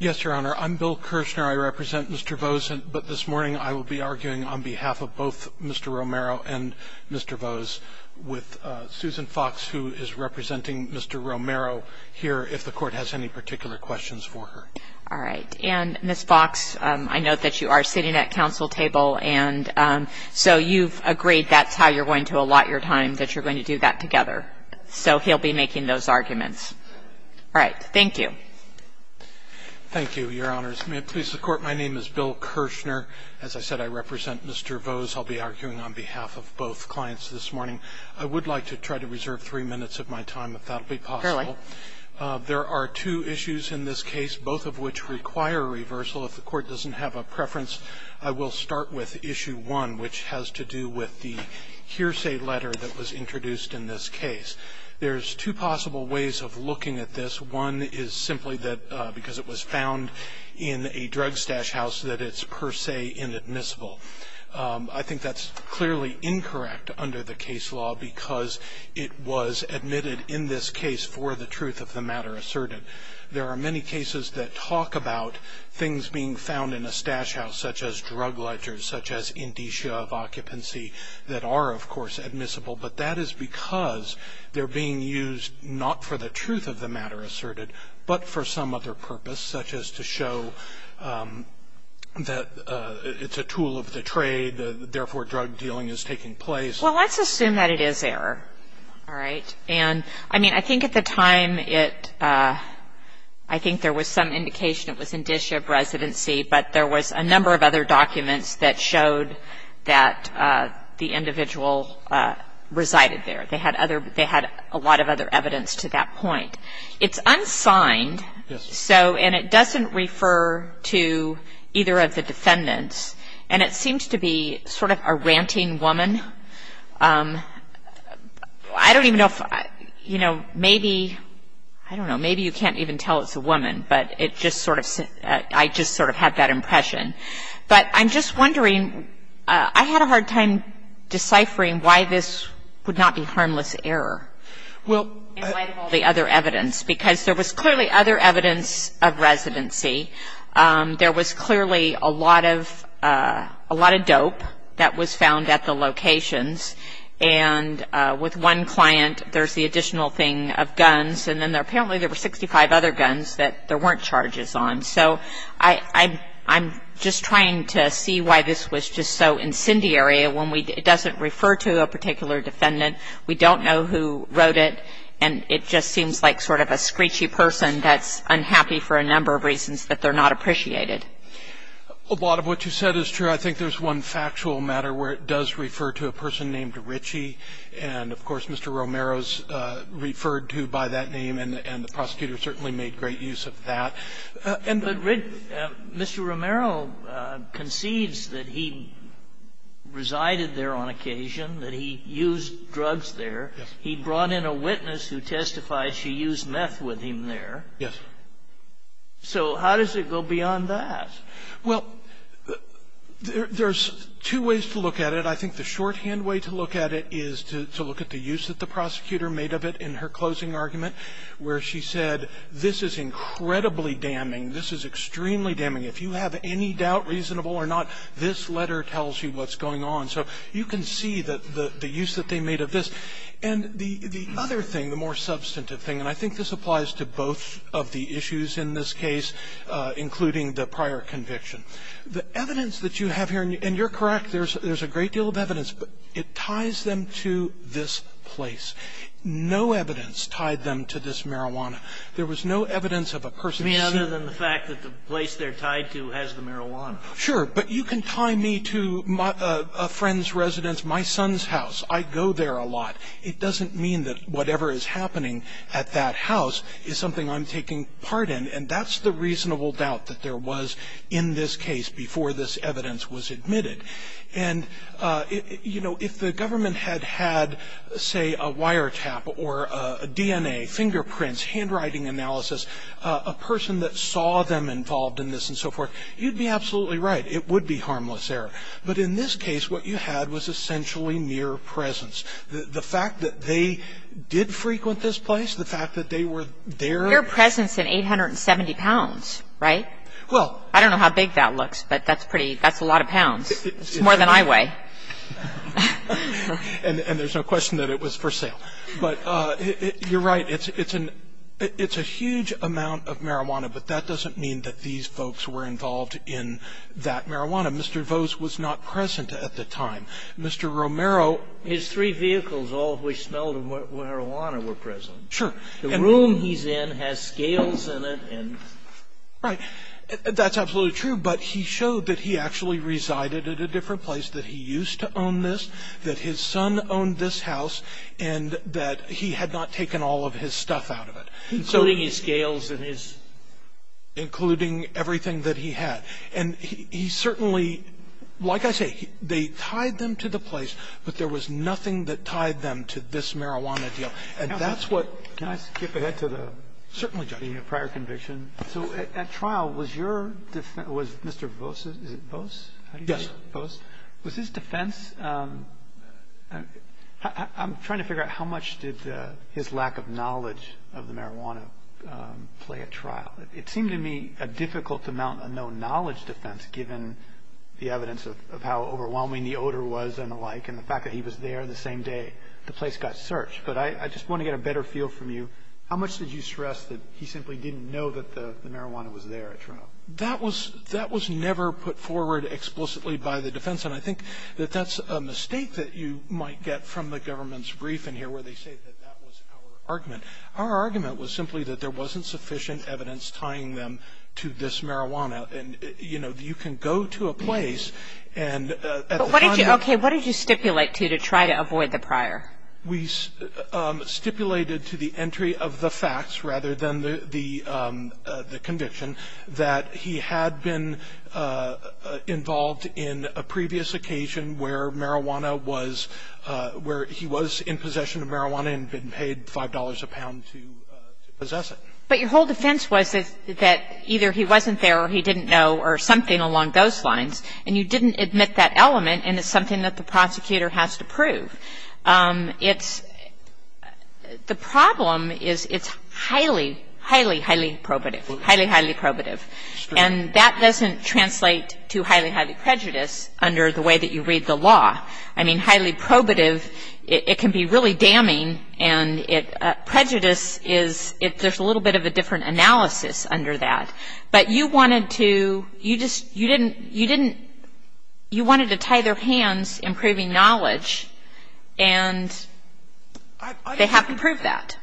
Yes, your honor. I'm Bill Kirshner. I represent Mr. Vose, but this morning I will be arguing on behalf of both Mr. Romero and Mr. Vose with Susan Fox, who is representing Mr. Romero here if the court has any particular questions for her. All right. And Ms. Fox, I know that you are sitting at council table, and so you've agreed that's how you're going to allot your time, that you're going to do that together. So he'll be making those arguments. All right. Thank you. Thank you, your honors. May it please the Court, my name is Bill Kirshner. As I said, I represent Mr. Vose. I'll be arguing on behalf of both clients this morning. I would like to try to reserve three minutes of my time, if that would be possible. There are two issues in this case, both of which require reversal. If the court doesn't have a preference, I will start with issue one, which has to do with the hearsay letter that was introduced in this case. There's two possible ways of looking at this. One is simply that because it was found in a drugstash house that it's per se inadmissible. I think that's clearly incorrect under the case law because it was admitted in this case for the truth of the matter asserted. There are many cases that talk about things being found in a stash house, such as drug ledgers, such as indicia of occupancy that are, of course, admissible. But that is because they're being used not for the truth of the matter asserted, but for some other purpose, such as to show that it's a tool of the trade, therefore drug dealing is taking place. Well, let's assume that it is error. All right. And, I mean, I think at the time it, I think there was some indication it was indicia of residency, but there was a number of other documents that showed that the individual resided there. They had other, they had a lot of other evidence to that point. It's unsigned, so, and it doesn't refer to either of the defendants, and it seems to be sort of a ranting woman. I don't even know if, you know, maybe, I don't know, maybe you can't even tell it's a woman, but it just sort of, I just sort of had that impression. But I'm just wondering, I had a hard time deciphering why this would not be harmless error. Well, in light of all the other evidence, because there was clearly other evidence of residency. There was clearly a lot of dope that was found at the locations, and with one client there's the additional thing of guns, and then apparently there were 65 other guns that there weren't charges on. So I'm just trying to see why this was just so incendiary when it doesn't refer to a particular defendant. We don't know who wrote it, and it just seems like sort of a screechy person that's unhappy for a number of reasons that they're not appreciated. A lot of what you said is true. I think there's one factual matter where it does refer to a person named Ritchie, and of course Mr. Romero's referred to by that name, and the prosecutor certainly made great use of that. But Mr. Romero concedes that he resided there on occasion, that he used drugs there. Yes. He brought in a witness who testified she used meth with him there. Yes. So how does it go beyond that? Well, there's two ways to look at it. I think the shorthand way to look at it is to look at the use that the prosecutor made of it in her closing argument, where she said this is incredibly damning. This is extremely damning. If you have any doubt reasonable or not, this letter tells you what's going on. So you can see the use that they made of this. And the other thing, the more substantive thing, and I think this applies to both of the issues in this case, including the prior conviction, the evidence that you have here, and you're correct, there's a great deal of evidence, but it ties them to this place. No evidence tied them to this marijuana. There was no evidence of a person seen. I mean, other than the fact that the place they're tied to has the marijuana. Sure. But you can tie me to a friend's residence, my son's house. I go there a lot. It doesn't mean that whatever is happening at that house is something I'm taking part in, and that's the reasonable doubt that there was in this case before this evidence was admitted. And, you know, if the government had had, say, a wiretap or a DNA, fingerprints, handwriting analysis, a person that saw them involved in this and so forth, you'd be absolutely right. It would be harmless there. But in this case, what you had was essentially mere presence. The fact that they did frequent this place, the fact that they were there. Mere presence in 870 pounds, right? Well. I don't know how big that looks, but that's a lot of pounds. It's more than I weigh. And there's no question that it was for sale. But you're right. It's a huge amount of marijuana, but that doesn't mean that these folks were involved in that marijuana. Mr. Vose was not present at the time. Mr. Romero. His three vehicles, all of which smelled of marijuana, were present. Sure. The room he's in has scales in it and... Right. That's absolutely true, but he showed that he actually resided at a different place, that he used to own this, that his son owned this house, and that he had not taken all of his stuff out of it. Including his scales and his... Including everything that he had. And he certainly... Like I say, they tied them to the place, but there was nothing that tied them to this marijuana deal. And that's what... Can I skip ahead to the... Certainly, Judge.... being a prior conviction. So at trial, was your... Was Mr. Vose's... Is it Vose? Yes. Vose. I'm trying to figure out how much did his lack of knowledge of the marijuana play at trial. It seemed to me a difficult to mount a no-knowledge defense, given the evidence of how overwhelming the odor was and the like, and the fact that he was there the same day the place got searched. But I just want to get a better feel from you. How much did you stress that he simply didn't know that the marijuana was there at trial? That was never put forward explicitly by the defense. And I think that that's a mistake that you might get from the government's briefing here, where they say that that was our argument. Our argument was simply that there wasn't sufficient evidence tying them to this marijuana. And, you know, you can go to a place and... But what did you... Okay, what did you stipulate to try to avoid the prior? We stipulated to the entry of the facts, rather than the conviction, that he had been involved in a previous occasion where marijuana was... You can... But your whole defense was that either he wasn't there or he didn't know or something along those lines, and you didn't admit that element, and it's something that the prosecutor has to prove. It's... The problem is it's highly, highly, highly probative. Highly, highly probative. And that doesn't translate to highly, highly prejudice under the way that you read the law. I mean, highly probative, it can be really damning, and it... Prejudice is... There's a little bit of a different analysis under that. But you wanted to... You just... You didn't... You didn't... You wanted to tie their hands in proving knowledge, and they have to prove that.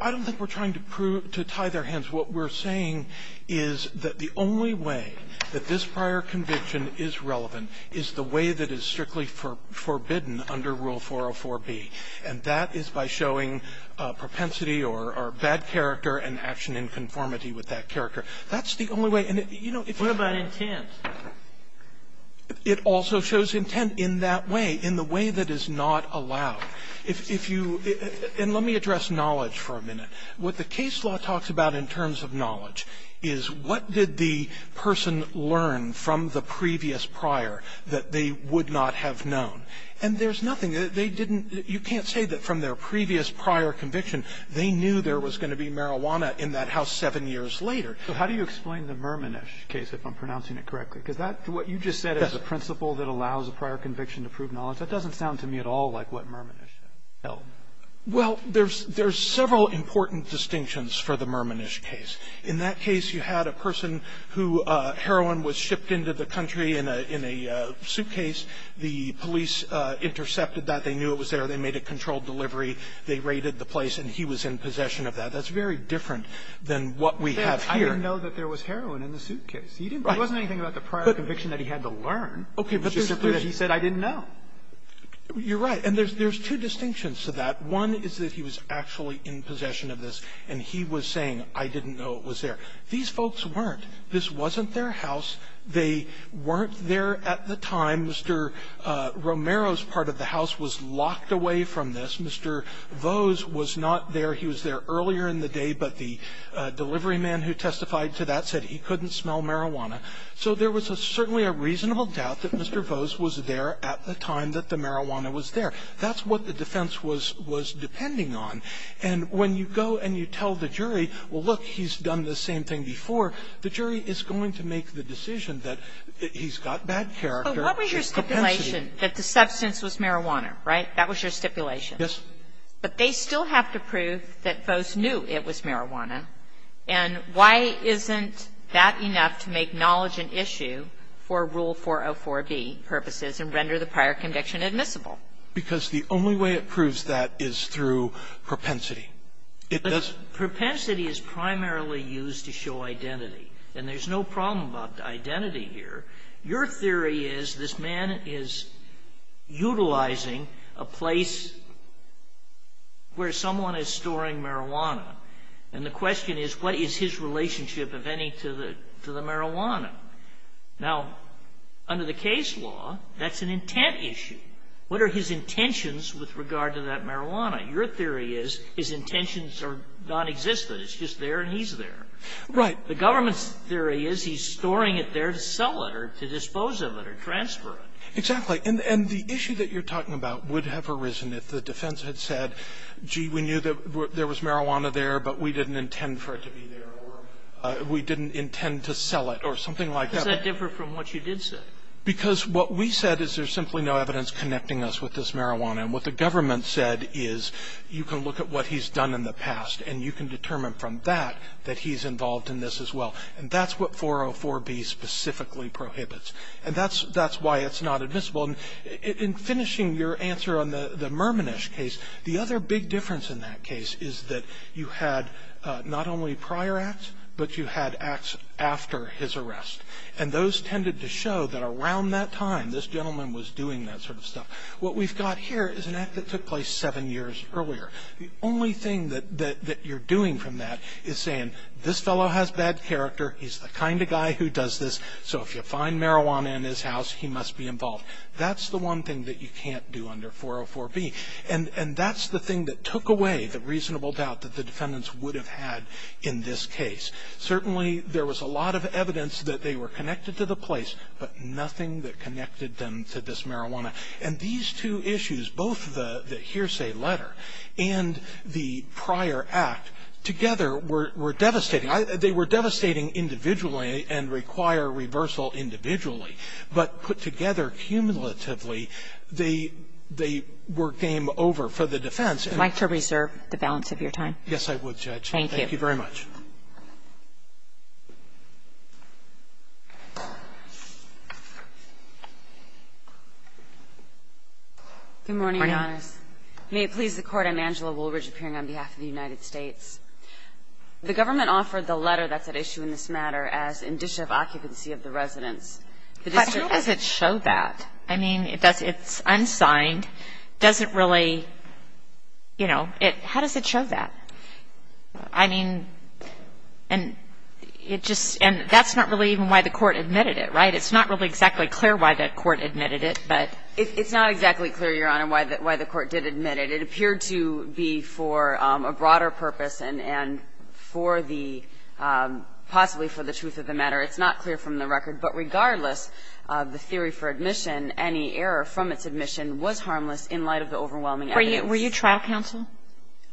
I don't think we're trying to tie their hands. What we're saying is that the only way that this prior conviction is relevant is the one that's forbidden under Rule 404b, and that is by showing propensity or bad character and action in conformity with that character. That's the only way. And, you know, if you... What about intent? It also shows intent in that way, in the way that is not allowed. If you... And let me address knowledge for a minute. What the case law talks about in terms of knowledge is what did the person learn from the previous prior that they would not have known? And there's nothing. They didn't... You can't say that from their previous prior conviction they knew there was going to be marijuana in that house seven years later. So how do you explain the Merminish case, if I'm pronouncing it correctly? Because that's what you just said is a principle that allows a prior conviction to prove knowledge. That doesn't sound to me at all like what Merminish held. Well, there's several important distinctions for the Merminish case. In that case, you had a person who heroin was shipped into the country in a suitcase. The police intercepted that. They knew it was there. They made a controlled delivery. They raided the place, and he was in possession of that. That's very different than what we have here. I didn't know that there was heroin in the suitcase. He didn't... Right. It wasn't anything about the prior conviction that he had to learn. Okay. But there's a... He said I didn't know. You're right. And there's two distinctions to that. One is that he was actually in possession of this, and he was saying, I didn't know it was there. These folks weren't. This wasn't their house. They weren't there at the time. Mr. Romero's part of the house was locked away from this. Mr. Vose was not there. He was there earlier in the day, but the delivery man who testified to that said he couldn't smell marijuana. So there was certainly a reasonable doubt that Mr. Vose was there at the time that the marijuana was there. That's what the defense was depending on. And when you go and you tell the jury, well, look, he's done the same thing before, the jury is going to make the decision that he's got bad character. But what was your stipulation, that the substance was marijuana, right? That was your stipulation. Yes. But they still have to prove that Vose knew it was marijuana. And why isn't that enough to make knowledge an issue for Rule 404b purposes and render the prior conviction admissible? Because the only way it proves that is through propensity. It doesn't ---- But propensity is primarily used to show identity. And there's no problem about identity here. Your theory is this man is utilizing a place where someone is storing marijuana. And the question is, what is his relationship, if any, to the marijuana? Now, under the case law, that's an intent issue. What are his intentions with regard to that marijuana? Your theory is his intentions are nonexistent. It's just there and he's there. Right. The government's theory is he's storing it there to sell it or to dispose of it or transfer it. Exactly. And the issue that you're talking about would have arisen if the defense had said, gee, we knew that there was marijuana there, but we didn't intend for it to be there or we didn't intend to sell it or something like that. Does that differ from what you did say? Because what we said is there's simply no evidence connecting us with this marijuana. And what the government said is you can look at what he's done in the past and you can determine from that that he's involved in this as well. And that's what 404B specifically prohibits. And that's why it's not admissible. And in finishing your answer on the Merminish case, the other big difference in that case is that you had not only prior acts, but you had acts after his arrest. And those tended to show that around that time, this gentleman was doing that sort of stuff. What we've got here is an act that took place seven years earlier. The only thing that you're doing from that is saying, this fellow has bad character. He's the kind of guy who does this. So if you find marijuana in his house, he must be involved. That's the one thing that you can't do under 404B. And that's the thing that took away the reasonable doubt that the defendants would have had in this case. Certainly, there was a lot of evidence that they were connected to the place, but nothing that connected them to this marijuana. And these two issues, both the hearsay letter and the prior act, together were devastating. They were devastating individually and require reversal individually. But put together cumulatively, they were game over for the defense. And I'd like to reserve the balance of your time. Yes, I would, Judge. Thank you. Thank you very much. Good morning, Your Honors. May it please the Court, I'm Angela Woolridge, appearing on behalf of the United States. The government offered the letter that's at issue in this matter as indicia of occupancy of the residence. But how does it show that? I mean, it's unsigned. Does it really, you know, how does it show that? I mean, and it just – and that's not really even why the Court admitted it, right? It's not really exactly clear why the Court admitted it, but – It's not exactly clear, Your Honor, why the Court did admit it. It appeared to be for a broader purpose and for the – possibly for the truth of the matter. It's not clear from the record. But regardless of the theory for admission, any error from its admission was harmless in light of the overwhelming evidence. Were you trial counsel?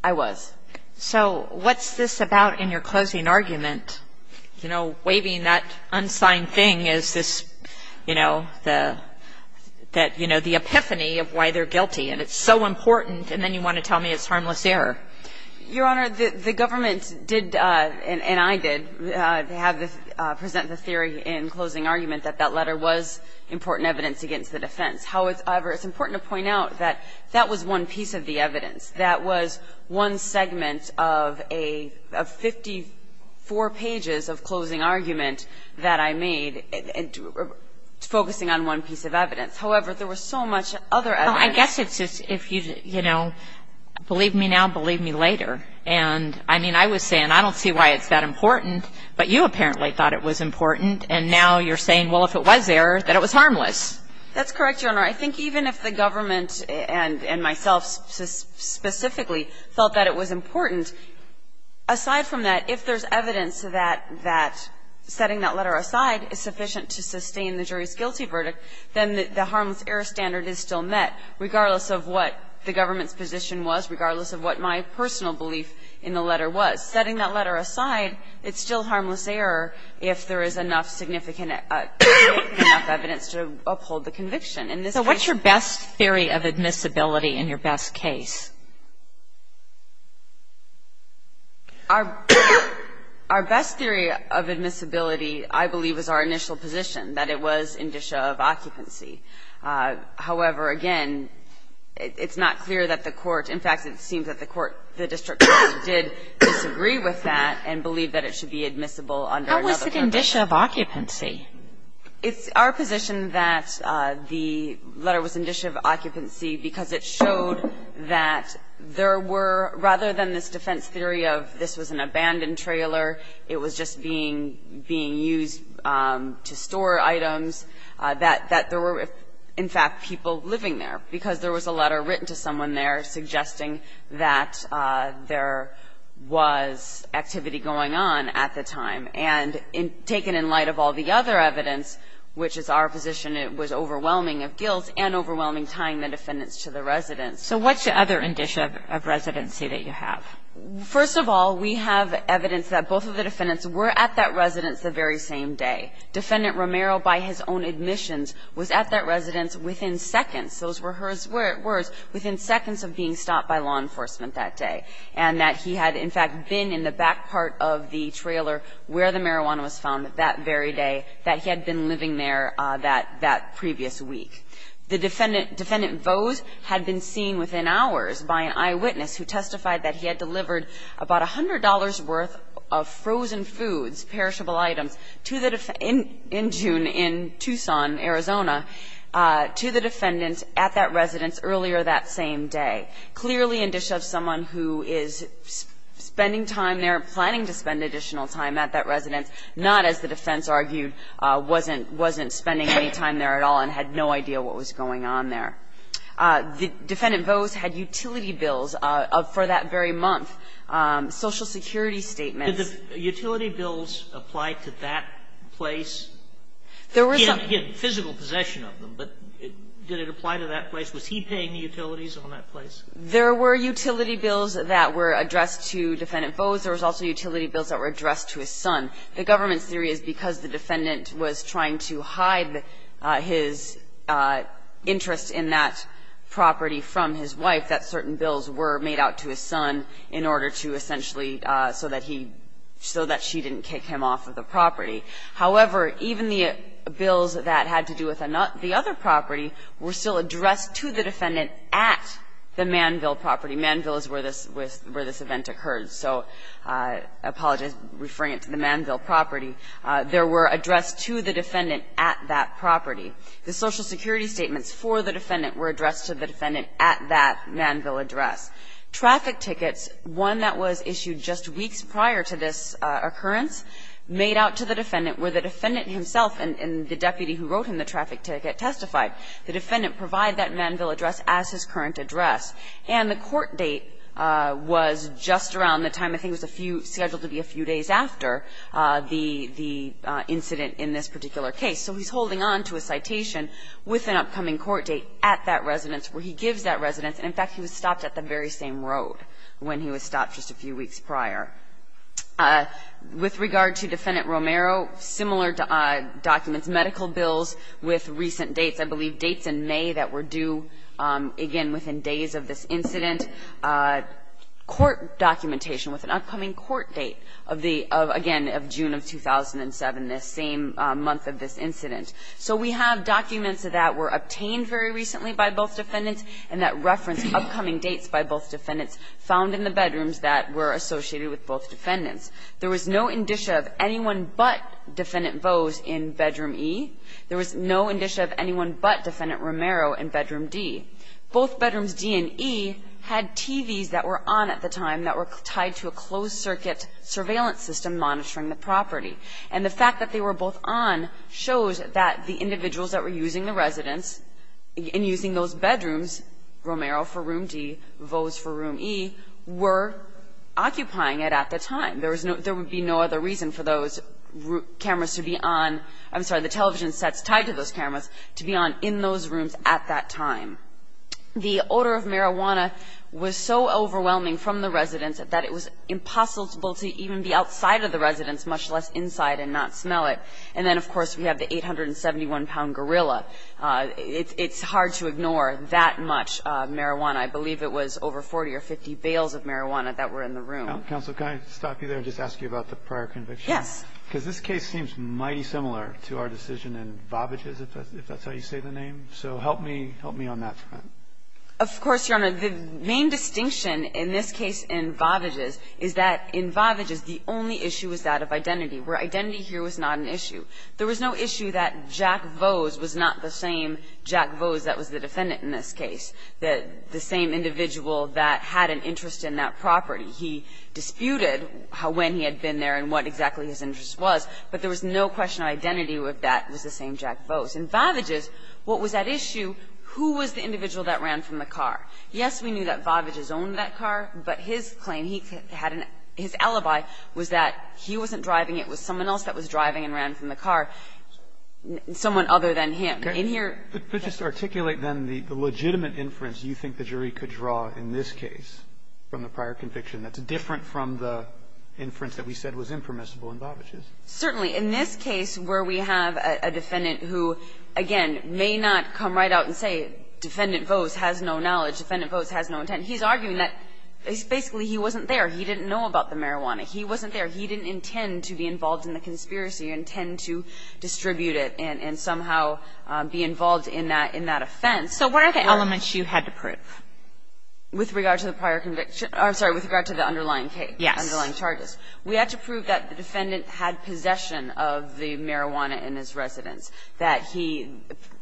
I was. So what's this about in your closing argument? You know, waving that unsigned thing is this, you know, the – that, you know, the epiphany of why they're guilty. And it's so important, and then you want to tell me it's harmless error. Your Honor, the government did – and I did – have the – present the theory in closing argument that that letter was important evidence against the defense. However, it's important to point out that that was one piece of the evidence. That was one segment of a – of 54 pages of closing argument that I made, focusing on one piece of evidence. However, there was so much other evidence. Well, I guess it's just if you, you know, believe me now, believe me later. And, I mean, I was saying, I don't see why it's that important, but you apparently thought it was important. And now you're saying, well, if it was error, that it was harmless. That's correct, Your Honor. I think even if the government, and myself specifically, felt that it was important, aside from that, if there's evidence that – that setting that letter aside is sufficient to sustain the jury's guilty verdict, then the harmless error standard is still met, regardless of what the government's position was, regardless of what my personal belief in the letter was. Setting that letter aside, it's still harmless error if there is enough significant evidence to uphold the conviction. In this case… So what's your best theory of admissibility in your best case? Our best theory of admissibility, I believe, is our initial position, that it was indicia of occupancy. However, again, it's not clear that the Court – in fact, it seems that the Court – the district court did disagree with that and believed that it should be admissible under another purpose. And so it's our position that the letter was indicia of occupancy. It's our position that the letter was indicia of occupancy because it showed that there were, rather than this defense theory of this was an abandoned trailer, it was just being – being used to store items, that – that there were, in fact, people living there because there was a letter written to someone there suggesting that there was activity going on at the time. And taken in light of all the other evidence, which is our position, it was overwhelming of guilt and overwhelming tying the defendants to the residence. So what's the other indicia of residency that you have? First of all, we have evidence that both of the defendants were at that residence the very same day. Defendant Romero, by his own admissions, was at that residence within seconds – those were his words – within seconds of being stopped by law enforcement that day. And that he had, in fact, been in the back part of the trailer where the marijuana was found that very day, that he had been living there that – that previous week. The defendant – defendant Vose had been seen within hours by an eyewitness who testified that he had delivered about $100 worth of frozen foods, perishable items, to the defendant in June in Tucson, Arizona, to the defendant at that residence earlier that same day. Clearly, indicia of someone who is spending time there, planning to spend additional time at that residence, not, as the defense argued, wasn't – wasn't spending any time there at all and had no idea what was going on there. Defendant Vose had utility bills for that very month, Social Security statements. Did the utility bills apply to that place? He had physical possession of them, but did it apply to that place? Was he paying the utilities on that place? There were utility bills that were addressed to Defendant Vose. There was also utility bills that were addressed to his son. The government's theory is because the defendant was trying to hide his interest in that property from his wife that certain bills were made out to his son in order to essentially – so that he – so that she didn't kick him off of the property. However, even the bills that had to do with the other property were still addressed to the defendant at the Manville property. Manville is where this event occurred, so I apologize, referring it to the Manville property. There were addressed to the defendant at that property. The Social Security statements for the defendant were addressed to the defendant at that Manville address. Traffic tickets, one that was issued just weeks prior to this occurrence, made out to the defendant where the defendant himself and the deputy who wrote him the traffic ticket testified. The defendant provided that Manville address as his current address. And the court date was just around the time I think it was scheduled to be a few days after the incident in this particular case. So he's holding on to a citation with an upcoming court date at that residence where he gives that residence. In fact, he was stopped at the very same road when he was stopped just a few weeks prior. With regard to Defendant Romero, similar documents, medical bills with recent dates. I believe dates in May that were due, again, within days of this incident. Court documentation with an upcoming court date of the – again, of June of 2007, this same month of this incident. So we have documents that were obtained very recently by both defendants and that reference upcoming dates by both defendants found in the bedrooms that were associated with both defendants. There was no indicia of anyone but Defendant Bose in Bedroom E. There was no indicia of anyone but Defendant Romero in Bedroom D. Both Bedrooms D and E had TVs that were on at the time that were tied to a closed-circuit surveillance system monitoring the property. And the fact that they were both on shows that the individuals that were using the residence and using those bedrooms, Romero for Room D, Bose for Room E, were occupying it at the time. There would be no other reason for those cameras to be on – I'm sorry, the television sets tied to those cameras to be on in those rooms at that time. The odor of marijuana was so overwhelming from the residence that it was impossible to even be outside of the residence, much less inside and not smell it. And then, of course, we have the 871-pound gorilla. It's hard to ignore that much marijuana. I believe it was over 40 or 50 bales of marijuana that were in the room. Counsel, can I stop you there and just ask you about the prior conviction? Yes. Because this case seems mighty similar to our decision in Vavages, if that's how you say the name. So help me on that front. Of course, Your Honor. The main distinction in this case in Vavages is that in Vavages, the only issue was that of identity, where identity here was not an issue. There was no issue that Jack Vose was not the same Jack Vose that was the defendant in this case, the same individual that had an interest in that property. He disputed when he had been there and what exactly his interest was, but there was no question of identity if that was the same Jack Vose. In Vavages, what was at issue, who was the individual that ran from the car? Yes, we knew that Vavages owned that car, but his claim, his alibi was that he wasn't driving, it was someone else that was driving and ran from the car, someone other than him. In here ---- But just articulate, then, the legitimate inference you think the jury could draw in this case from the prior conviction that's different from the inference that we said was impermissible in Vavages. Certainly. In this case where we have a defendant who, again, may not come right out and say, defendant Vose has no knowledge, defendant Vose has no intent, he's arguing that basically he wasn't there, he didn't know about the marijuana, he wasn't there, he didn't intend to be involved in the conspiracy and tend to distribute it and somehow be involved in that offense. So what are the elements you had to prove? With regard to the prior conviction or, I'm sorry, with regard to the underlying case, the underlying charges. Yes. We had to prove that the defendant had possession of the marijuana in his residence, that he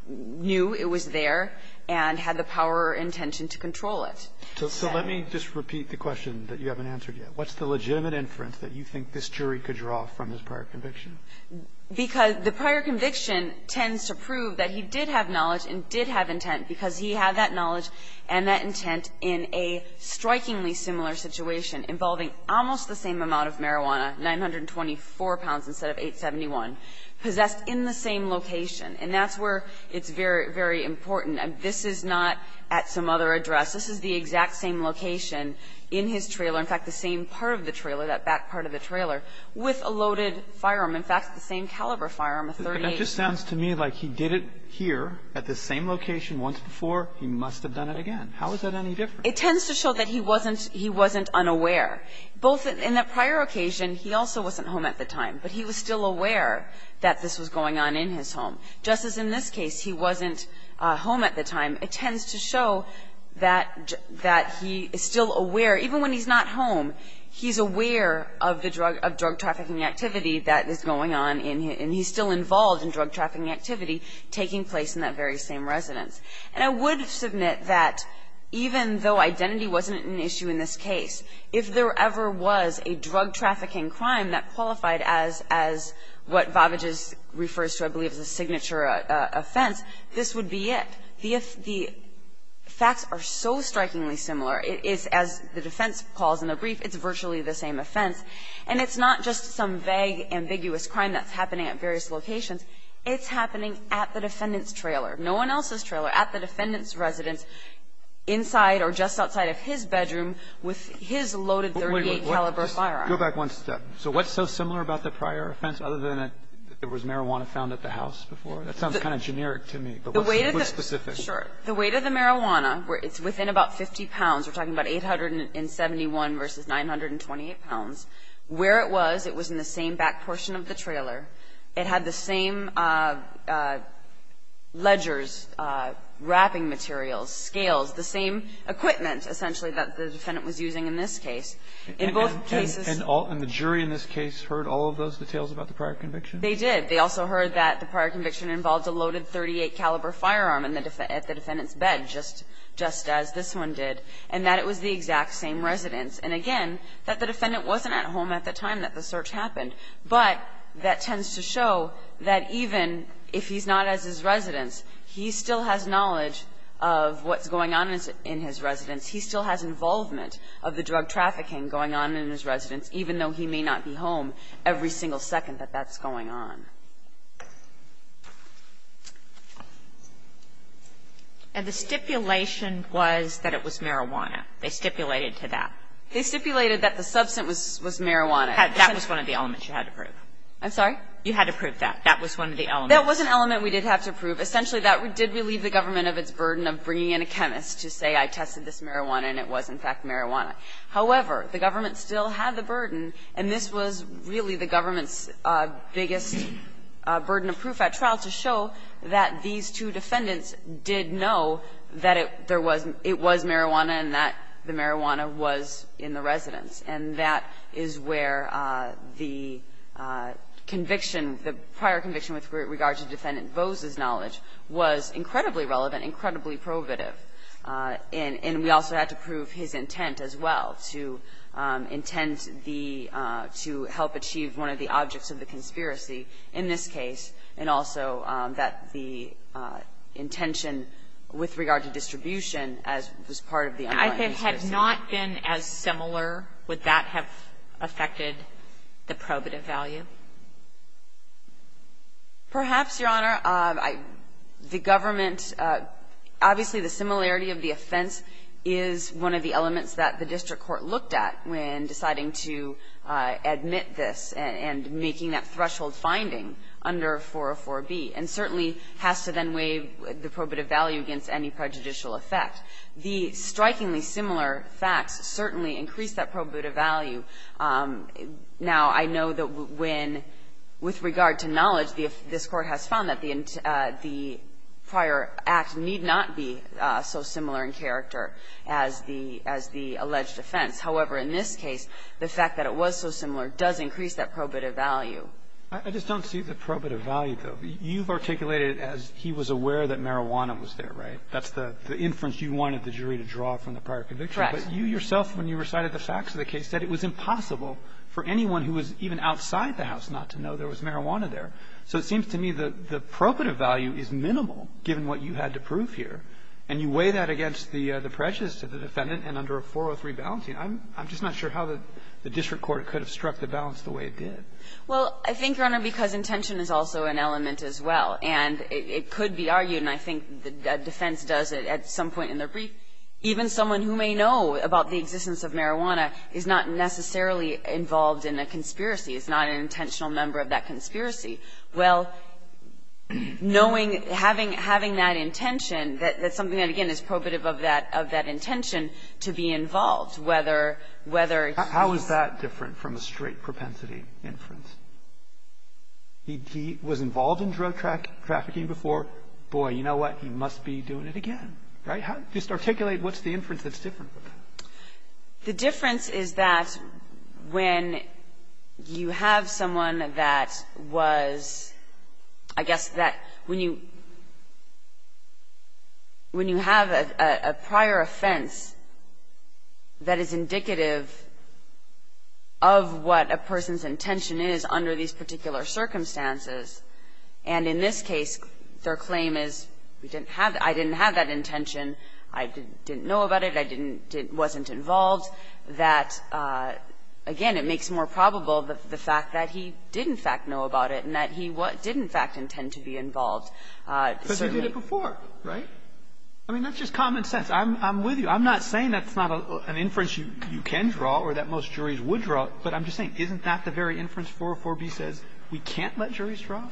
knew it was there and had the power or intention to control it. So let me just repeat the question that you haven't answered yet. What's the legitimate inference that you think this jury could draw from his prior conviction? Because the prior conviction tends to prove that he did have knowledge and did have intent because he had that knowledge and that intent in a strikingly similar situation involving almost the same amount of marijuana, 924 pounds instead of 871, possessed in the same location. And that's where it's very, very important. This is not at some other address. This is the exact same location in his trailer, in fact, the same part of the trailer, that back part of the trailer, with a loaded firearm, in fact, the same caliber firearm, a .38. But that just sounds to me like he did it here at the same location once before. He must have done it again. How is that any different? It tends to show that he wasn't unaware. Both in that prior occasion, he also wasn't home at the time. But he was still aware that this was going on in his home. Just as in this case, he wasn't home at the time. It tends to show that he is still aware. Even when he's not home, he's aware of drug trafficking activity that is going on. And he's still involved in drug trafficking activity taking place in that very same residence. And I would submit that even though identity wasn't an issue in this case, if there ever was a drug trafficking crime that qualified as what Vavagis refers to, I believe, as a signature offense, this would be it. The facts are so strikingly similar. It is, as the defense calls in the brief, it's virtually the same offense. And it's not just some vague, ambiguous crime that's happening at various locations. It's happening at the defendant's trailer, no one else's trailer, at the defendant's bedroom with his loaded .38 caliber firearm. Go back one step. So what's so similar about the prior offense other than it was marijuana found at the house before? That sounds kind of generic to me. But what's specific? Sure. The weight of the marijuana, it's within about 50 pounds. We're talking about 871 versus 928 pounds. Where it was, it was in the same back portion of the trailer. It had the same ledgers, wrapping materials, scales, the same equipment, essentially, that the defendant was using in this case. In both cases. And the jury in this case heard all of those details about the prior conviction? They did. They also heard that the prior conviction involved a loaded .38 caliber firearm at the defendant's bed, just as this one did, and that it was the exact same residence. And again, that the defendant wasn't at home at the time that the search happened. But that tends to show that even if he's not at his residence, he still has knowledge of what's going on in his residence. He still has involvement of the drug trafficking going on in his residence, even though he may not be home every single second that that's going on. And the stipulation was that it was marijuana. They stipulated to that. They stipulated that the substance was marijuana. That was one of the elements you had to prove. I'm sorry? You had to prove that. That was one of the elements. That was an element we did have to prove. Essentially, that did relieve the government of its burden of bringing in a chemist to say, I tested this marijuana and it was, in fact, marijuana. However, the government still had the burden, and this was really the government's biggest burden of proof at trial, to show that these two defendants did know that it was marijuana and that the marijuana was in the residence. And that is where the conviction, the prior conviction with regard to Defendant Bose's knowledge, was incredibly relevant, incredibly probative. And we also had to prove his intent as well, to intend the to help achieve one of the objects of the conspiracy in this case, and also that the intention with regard to distribution as was part of the underlying conspiracy. If it had not been as similar, would that have affected the probative value? Perhaps, Your Honor. The government, obviously the similarity of the offense is one of the elements that the district court looked at when deciding to admit this and making that threshold finding under 404B, and certainly has to then weigh the probative value against any prejudicial effect. The strikingly similar facts certainly increase that probative value. Now, I know that when, with regard to knowledge, this Court has found that the prior act need not be so similar in character as the alleged offense. However, in this case, the fact that it was so similar does increase that probative value. I just don't see the probative value, though. You've articulated it as he was aware that marijuana was there, right? That's the inference you wanted the jury to draw from the prior conviction. Correct. But you yourself, when you recited the facts of the case, said it was impossible for anyone who was even outside the house not to know there was marijuana there. So it seems to me that the probative value is minimal, given what you had to prove here. And you weigh that against the prejudice of the defendant and under a 403 balancing. I'm just not sure how the district court could have struck the balance the way it did. Well, I think, Your Honor, because intention is also an element as well. And it could be argued, and I think the defense does it at some point in their brief, even someone who may know about the existence of marijuana is not necessarily involved in a conspiracy. It's not an intentional member of that conspiracy. Well, knowing, having that intention, that's something that, again, is probative of that intention to be involved. How is that different from a straight propensity inference? He was involved in drug trafficking before. Boy, you know what? He must be doing it again, right? Just articulate what's the inference that's different. The difference is that when you have someone that was, I guess, that when you have a prior offense that is indicative of what a person's intention is under these particular circumstances, and in this case, their claim is, we didn't have that, I didn't have that intention, I didn't know about it, I wasn't involved, that, again, it makes more probable the fact that he did, in fact, know about it and that he did, in fact, intend to be involved. Because he did it before, right? I mean, that's just common sense. I'm with you. I'm not saying that's not an inference you can draw or that most juries would draw, but I'm just saying, isn't that the very inference 404B says we can't let juries draw?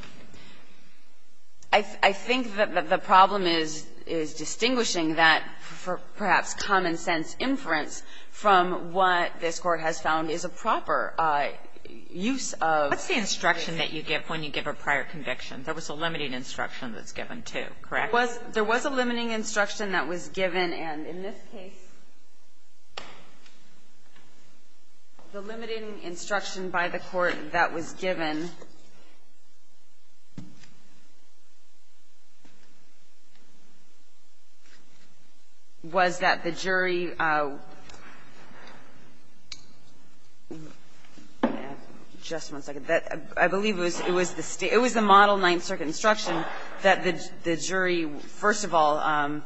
I think that the problem is distinguishing that, perhaps, common-sense inference from what this Court has found is a proper use of. What's the instruction that you give when you give a prior conviction? There was a limiting instruction that's given, too, correct? There was a limiting instruction that was given, and in this case, the limiting instruction was that the jury, just one second, I believe it was the model Ninth Circuit instruction that the jury, first of all,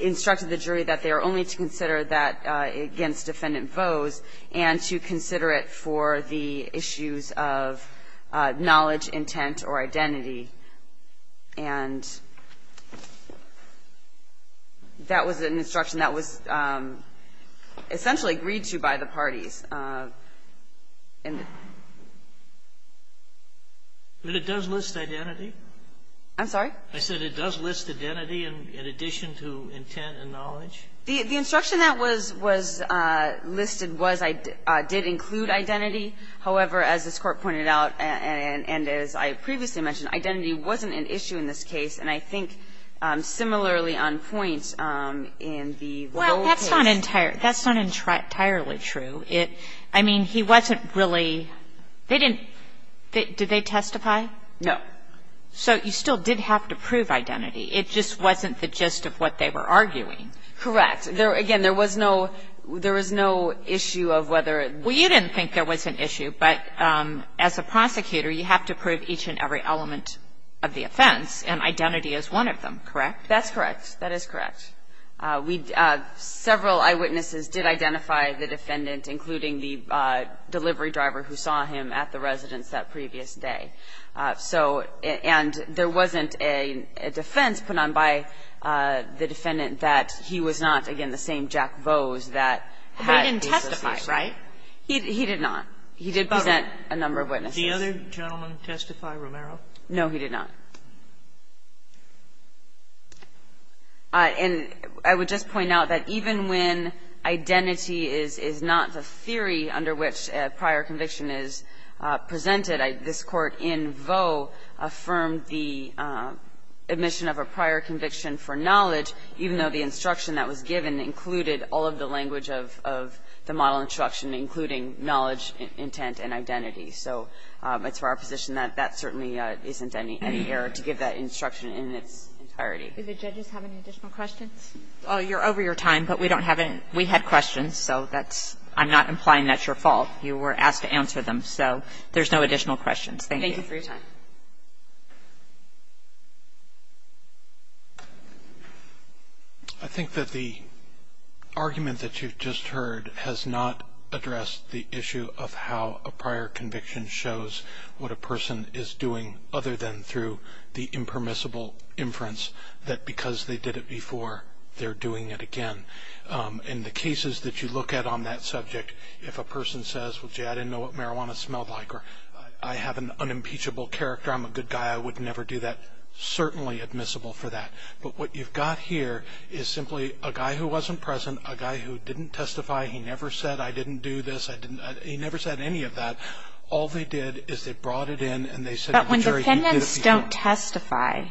instructed the jury that they are only to consider that against defendant vows and to consider it for the issues of knowledge, intent, or identity. And that was an instruction that was essentially agreed to by the parties. But it does list identity? I'm sorry? I said it does list identity in addition to intent and knowledge? The instruction that was listed did include identity. However, as this Court pointed out, and as I previously mentioned, identity wasn't an issue in this case, and I think similarly on point in the role case. Well, that's not entirely true. I mean, he wasn't really, they didn't, did they testify? No. So you still did have to prove identity. It just wasn't the gist of what they were arguing. Correct. Again, there was no issue of whether. Well, you didn't think there was an issue, but as a prosecutor, you have to prove each and every element of the offense, and identity is one of them, correct? That's correct. That is correct. Several eyewitnesses did identify the defendant, including the delivery driver who saw him at the residence that previous day. So, and there wasn't a defense put on by the defendant that he was not, again, the same Jack Vose that had the association. Right? He did not. He did present a number of witnesses. Did the other gentleman testify, Romero? No, he did not. And I would just point out that even when identity is not the theory under which prior conviction is presented, this Court in Vaux affirmed the admission of a prior conviction for knowledge, even though the instruction that was given included all of the language of the model instruction, including knowledge, intent, and identity. So it's for our position that that certainly isn't any error to give that instruction in its entirety. Do the judges have any additional questions? You're over your time, but we don't have any. We had questions, so I'm not implying that's your fault. You were asked to answer them, so there's no additional questions. Thank you. Thank you for your time. I think that the argument that you've just heard has not addressed the issue of how a prior conviction shows what a person is doing other than through the impermissible inference that because they did it before, they're doing it again. In the cases that you look at on that subject, if a person says, well, gee, I didn't know what marijuana smelled like or I have an unimpeachable character, I'm a good guy, I would never do that, certainly admissible for that. But what you've got here is simply a guy who wasn't present, a guy who didn't testify, he never said, I didn't do this, he never said any of that. All they did is they brought it in and they said, But when defendants don't testify,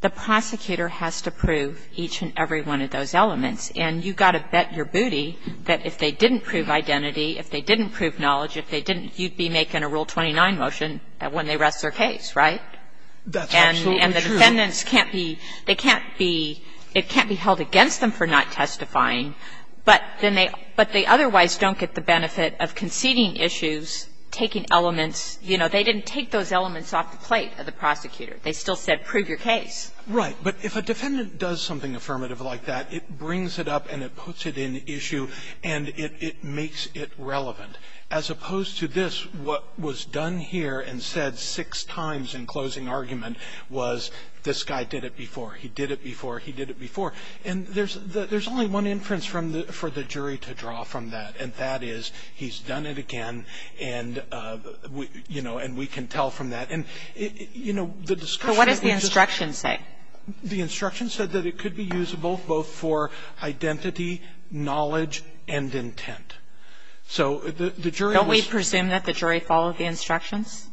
the prosecutor has to prove each and every one of those elements. And you've got to bet your booty that if they didn't prove identity, if they didn't prove knowledge, if they didn't, you'd be making a Rule 29 motion when they rest their case, right? That's absolutely true. And the defendants can't be, they can't be, it can't be held against them for not testifying, but then they, but they otherwise don't get the benefit of conceding issues, taking elements, you know, they didn't take those elements off the plate of the prosecutor. They still said prove your case. Right. But if a defendant does something affirmative like that, it brings it up and it puts it in issue and it makes it relevant. As opposed to this, what was done here and said six times in closing argument was, this guy did it before, he did it before, he did it before. And there's only one inference for the jury to draw from that, and that is, he's done it again and, you know, and we can tell from that. And, you know, the discussion is just So what does the instruction say? The instruction said that it could be usable both for identity, knowledge, and intent. So the jury Don't we presume that the jury followed the instructions?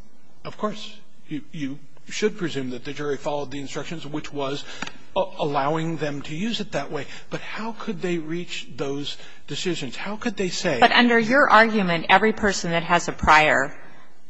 Of course. You should presume that the jury followed the instructions, which was allowing them to use it that way. But how could they reach those decisions? How could they say But under your argument, every person that has a prior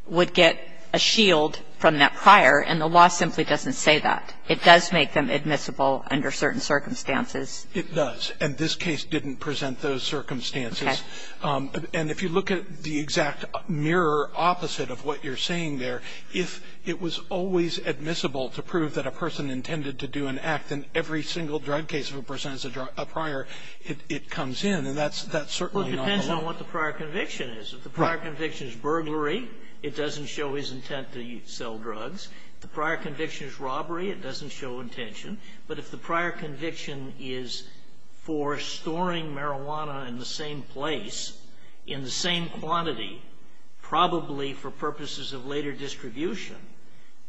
would get a shield from that prior, and the law simply doesn't say that. It does make them admissible under certain circumstances. It does. And this case didn't present those circumstances. Okay. And if you look at the exact mirror opposite of what you're saying there, if it was always admissible to prove that a person intended to do an act in every single drug case where a person has a prior, it comes in. And that's certainly not the law. Well, it depends on what the prior conviction is. If the prior conviction is burglary, it doesn't show his intent to sell drugs. If the prior conviction is robbery, it doesn't show intention. But if the prior conviction is for storing marijuana in the same place, in the same quantity, probably for purposes of later distribution,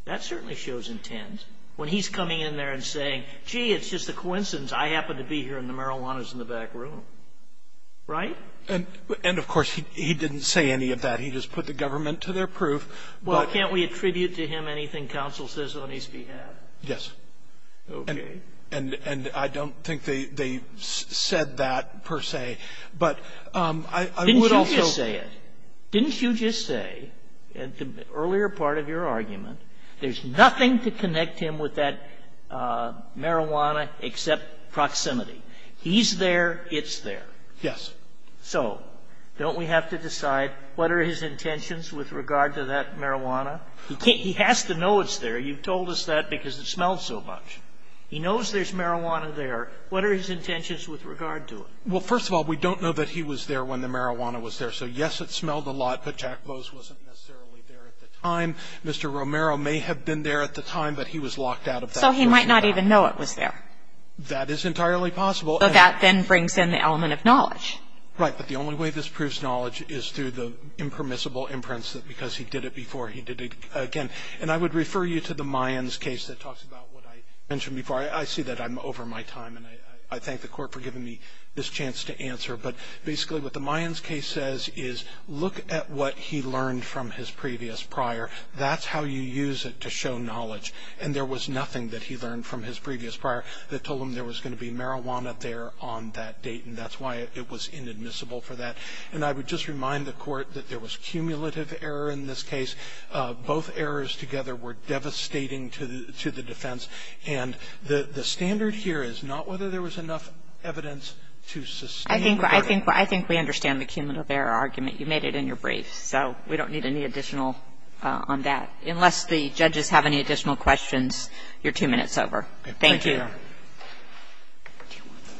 that certainly shows intent. When he's coming in there and saying, gee, it's just a coincidence. I happen to be here, and the marijuana is in the back room. Right? And of course, he didn't say any of that. He just put the government to their proof. Well, can't we attribute to him anything counsel says on his behalf? Yes. Okay. And I don't think they said that, per se. But I would also say it. Didn't you just say, at the earlier part of your argument, there's nothing to connect him with that marijuana except proximity. He's there. It's there. Yes. So, don't we have to decide what are his intentions with regard to that marijuana? He has to know it's there. You've told us that because it smells so much. He knows there's marijuana there. What are his intentions with regard to it? Well, first of all, we don't know that he was there when the marijuana was there. So, yes, it smelled a lot. Pachacpos wasn't necessarily there at the time. Mr. Romero may have been there at the time, but he was locked out of that. So he might not even know it was there. That is entirely possible. So that then brings in the element of knowledge. Right. But the only way this proves knowledge is through the impermissible imprints that because he did it before, he did it again. And I would refer you to the Mayans case that talks about what I mentioned before. I see that I'm over my time. And I thank the Court for giving me this chance to answer. But basically, what the Mayans case says is look at what he learned from his previous prior. That's how you use it to show knowledge. And there was nothing that he learned from his previous prior that told him there was going to be marijuana there on that date. And that's why it was inadmissible for that. And I would just remind the Court that there was cumulative error in this case. Both errors together were devastating to the defense. And the standard here is not whether there was enough evidence to sustain the verdict. I think we understand the cumulative error argument. You made it in your brief. So we don't need any additional on that. Unless the judges have any additional questions, you're two minutes over. Thank you. Thank you.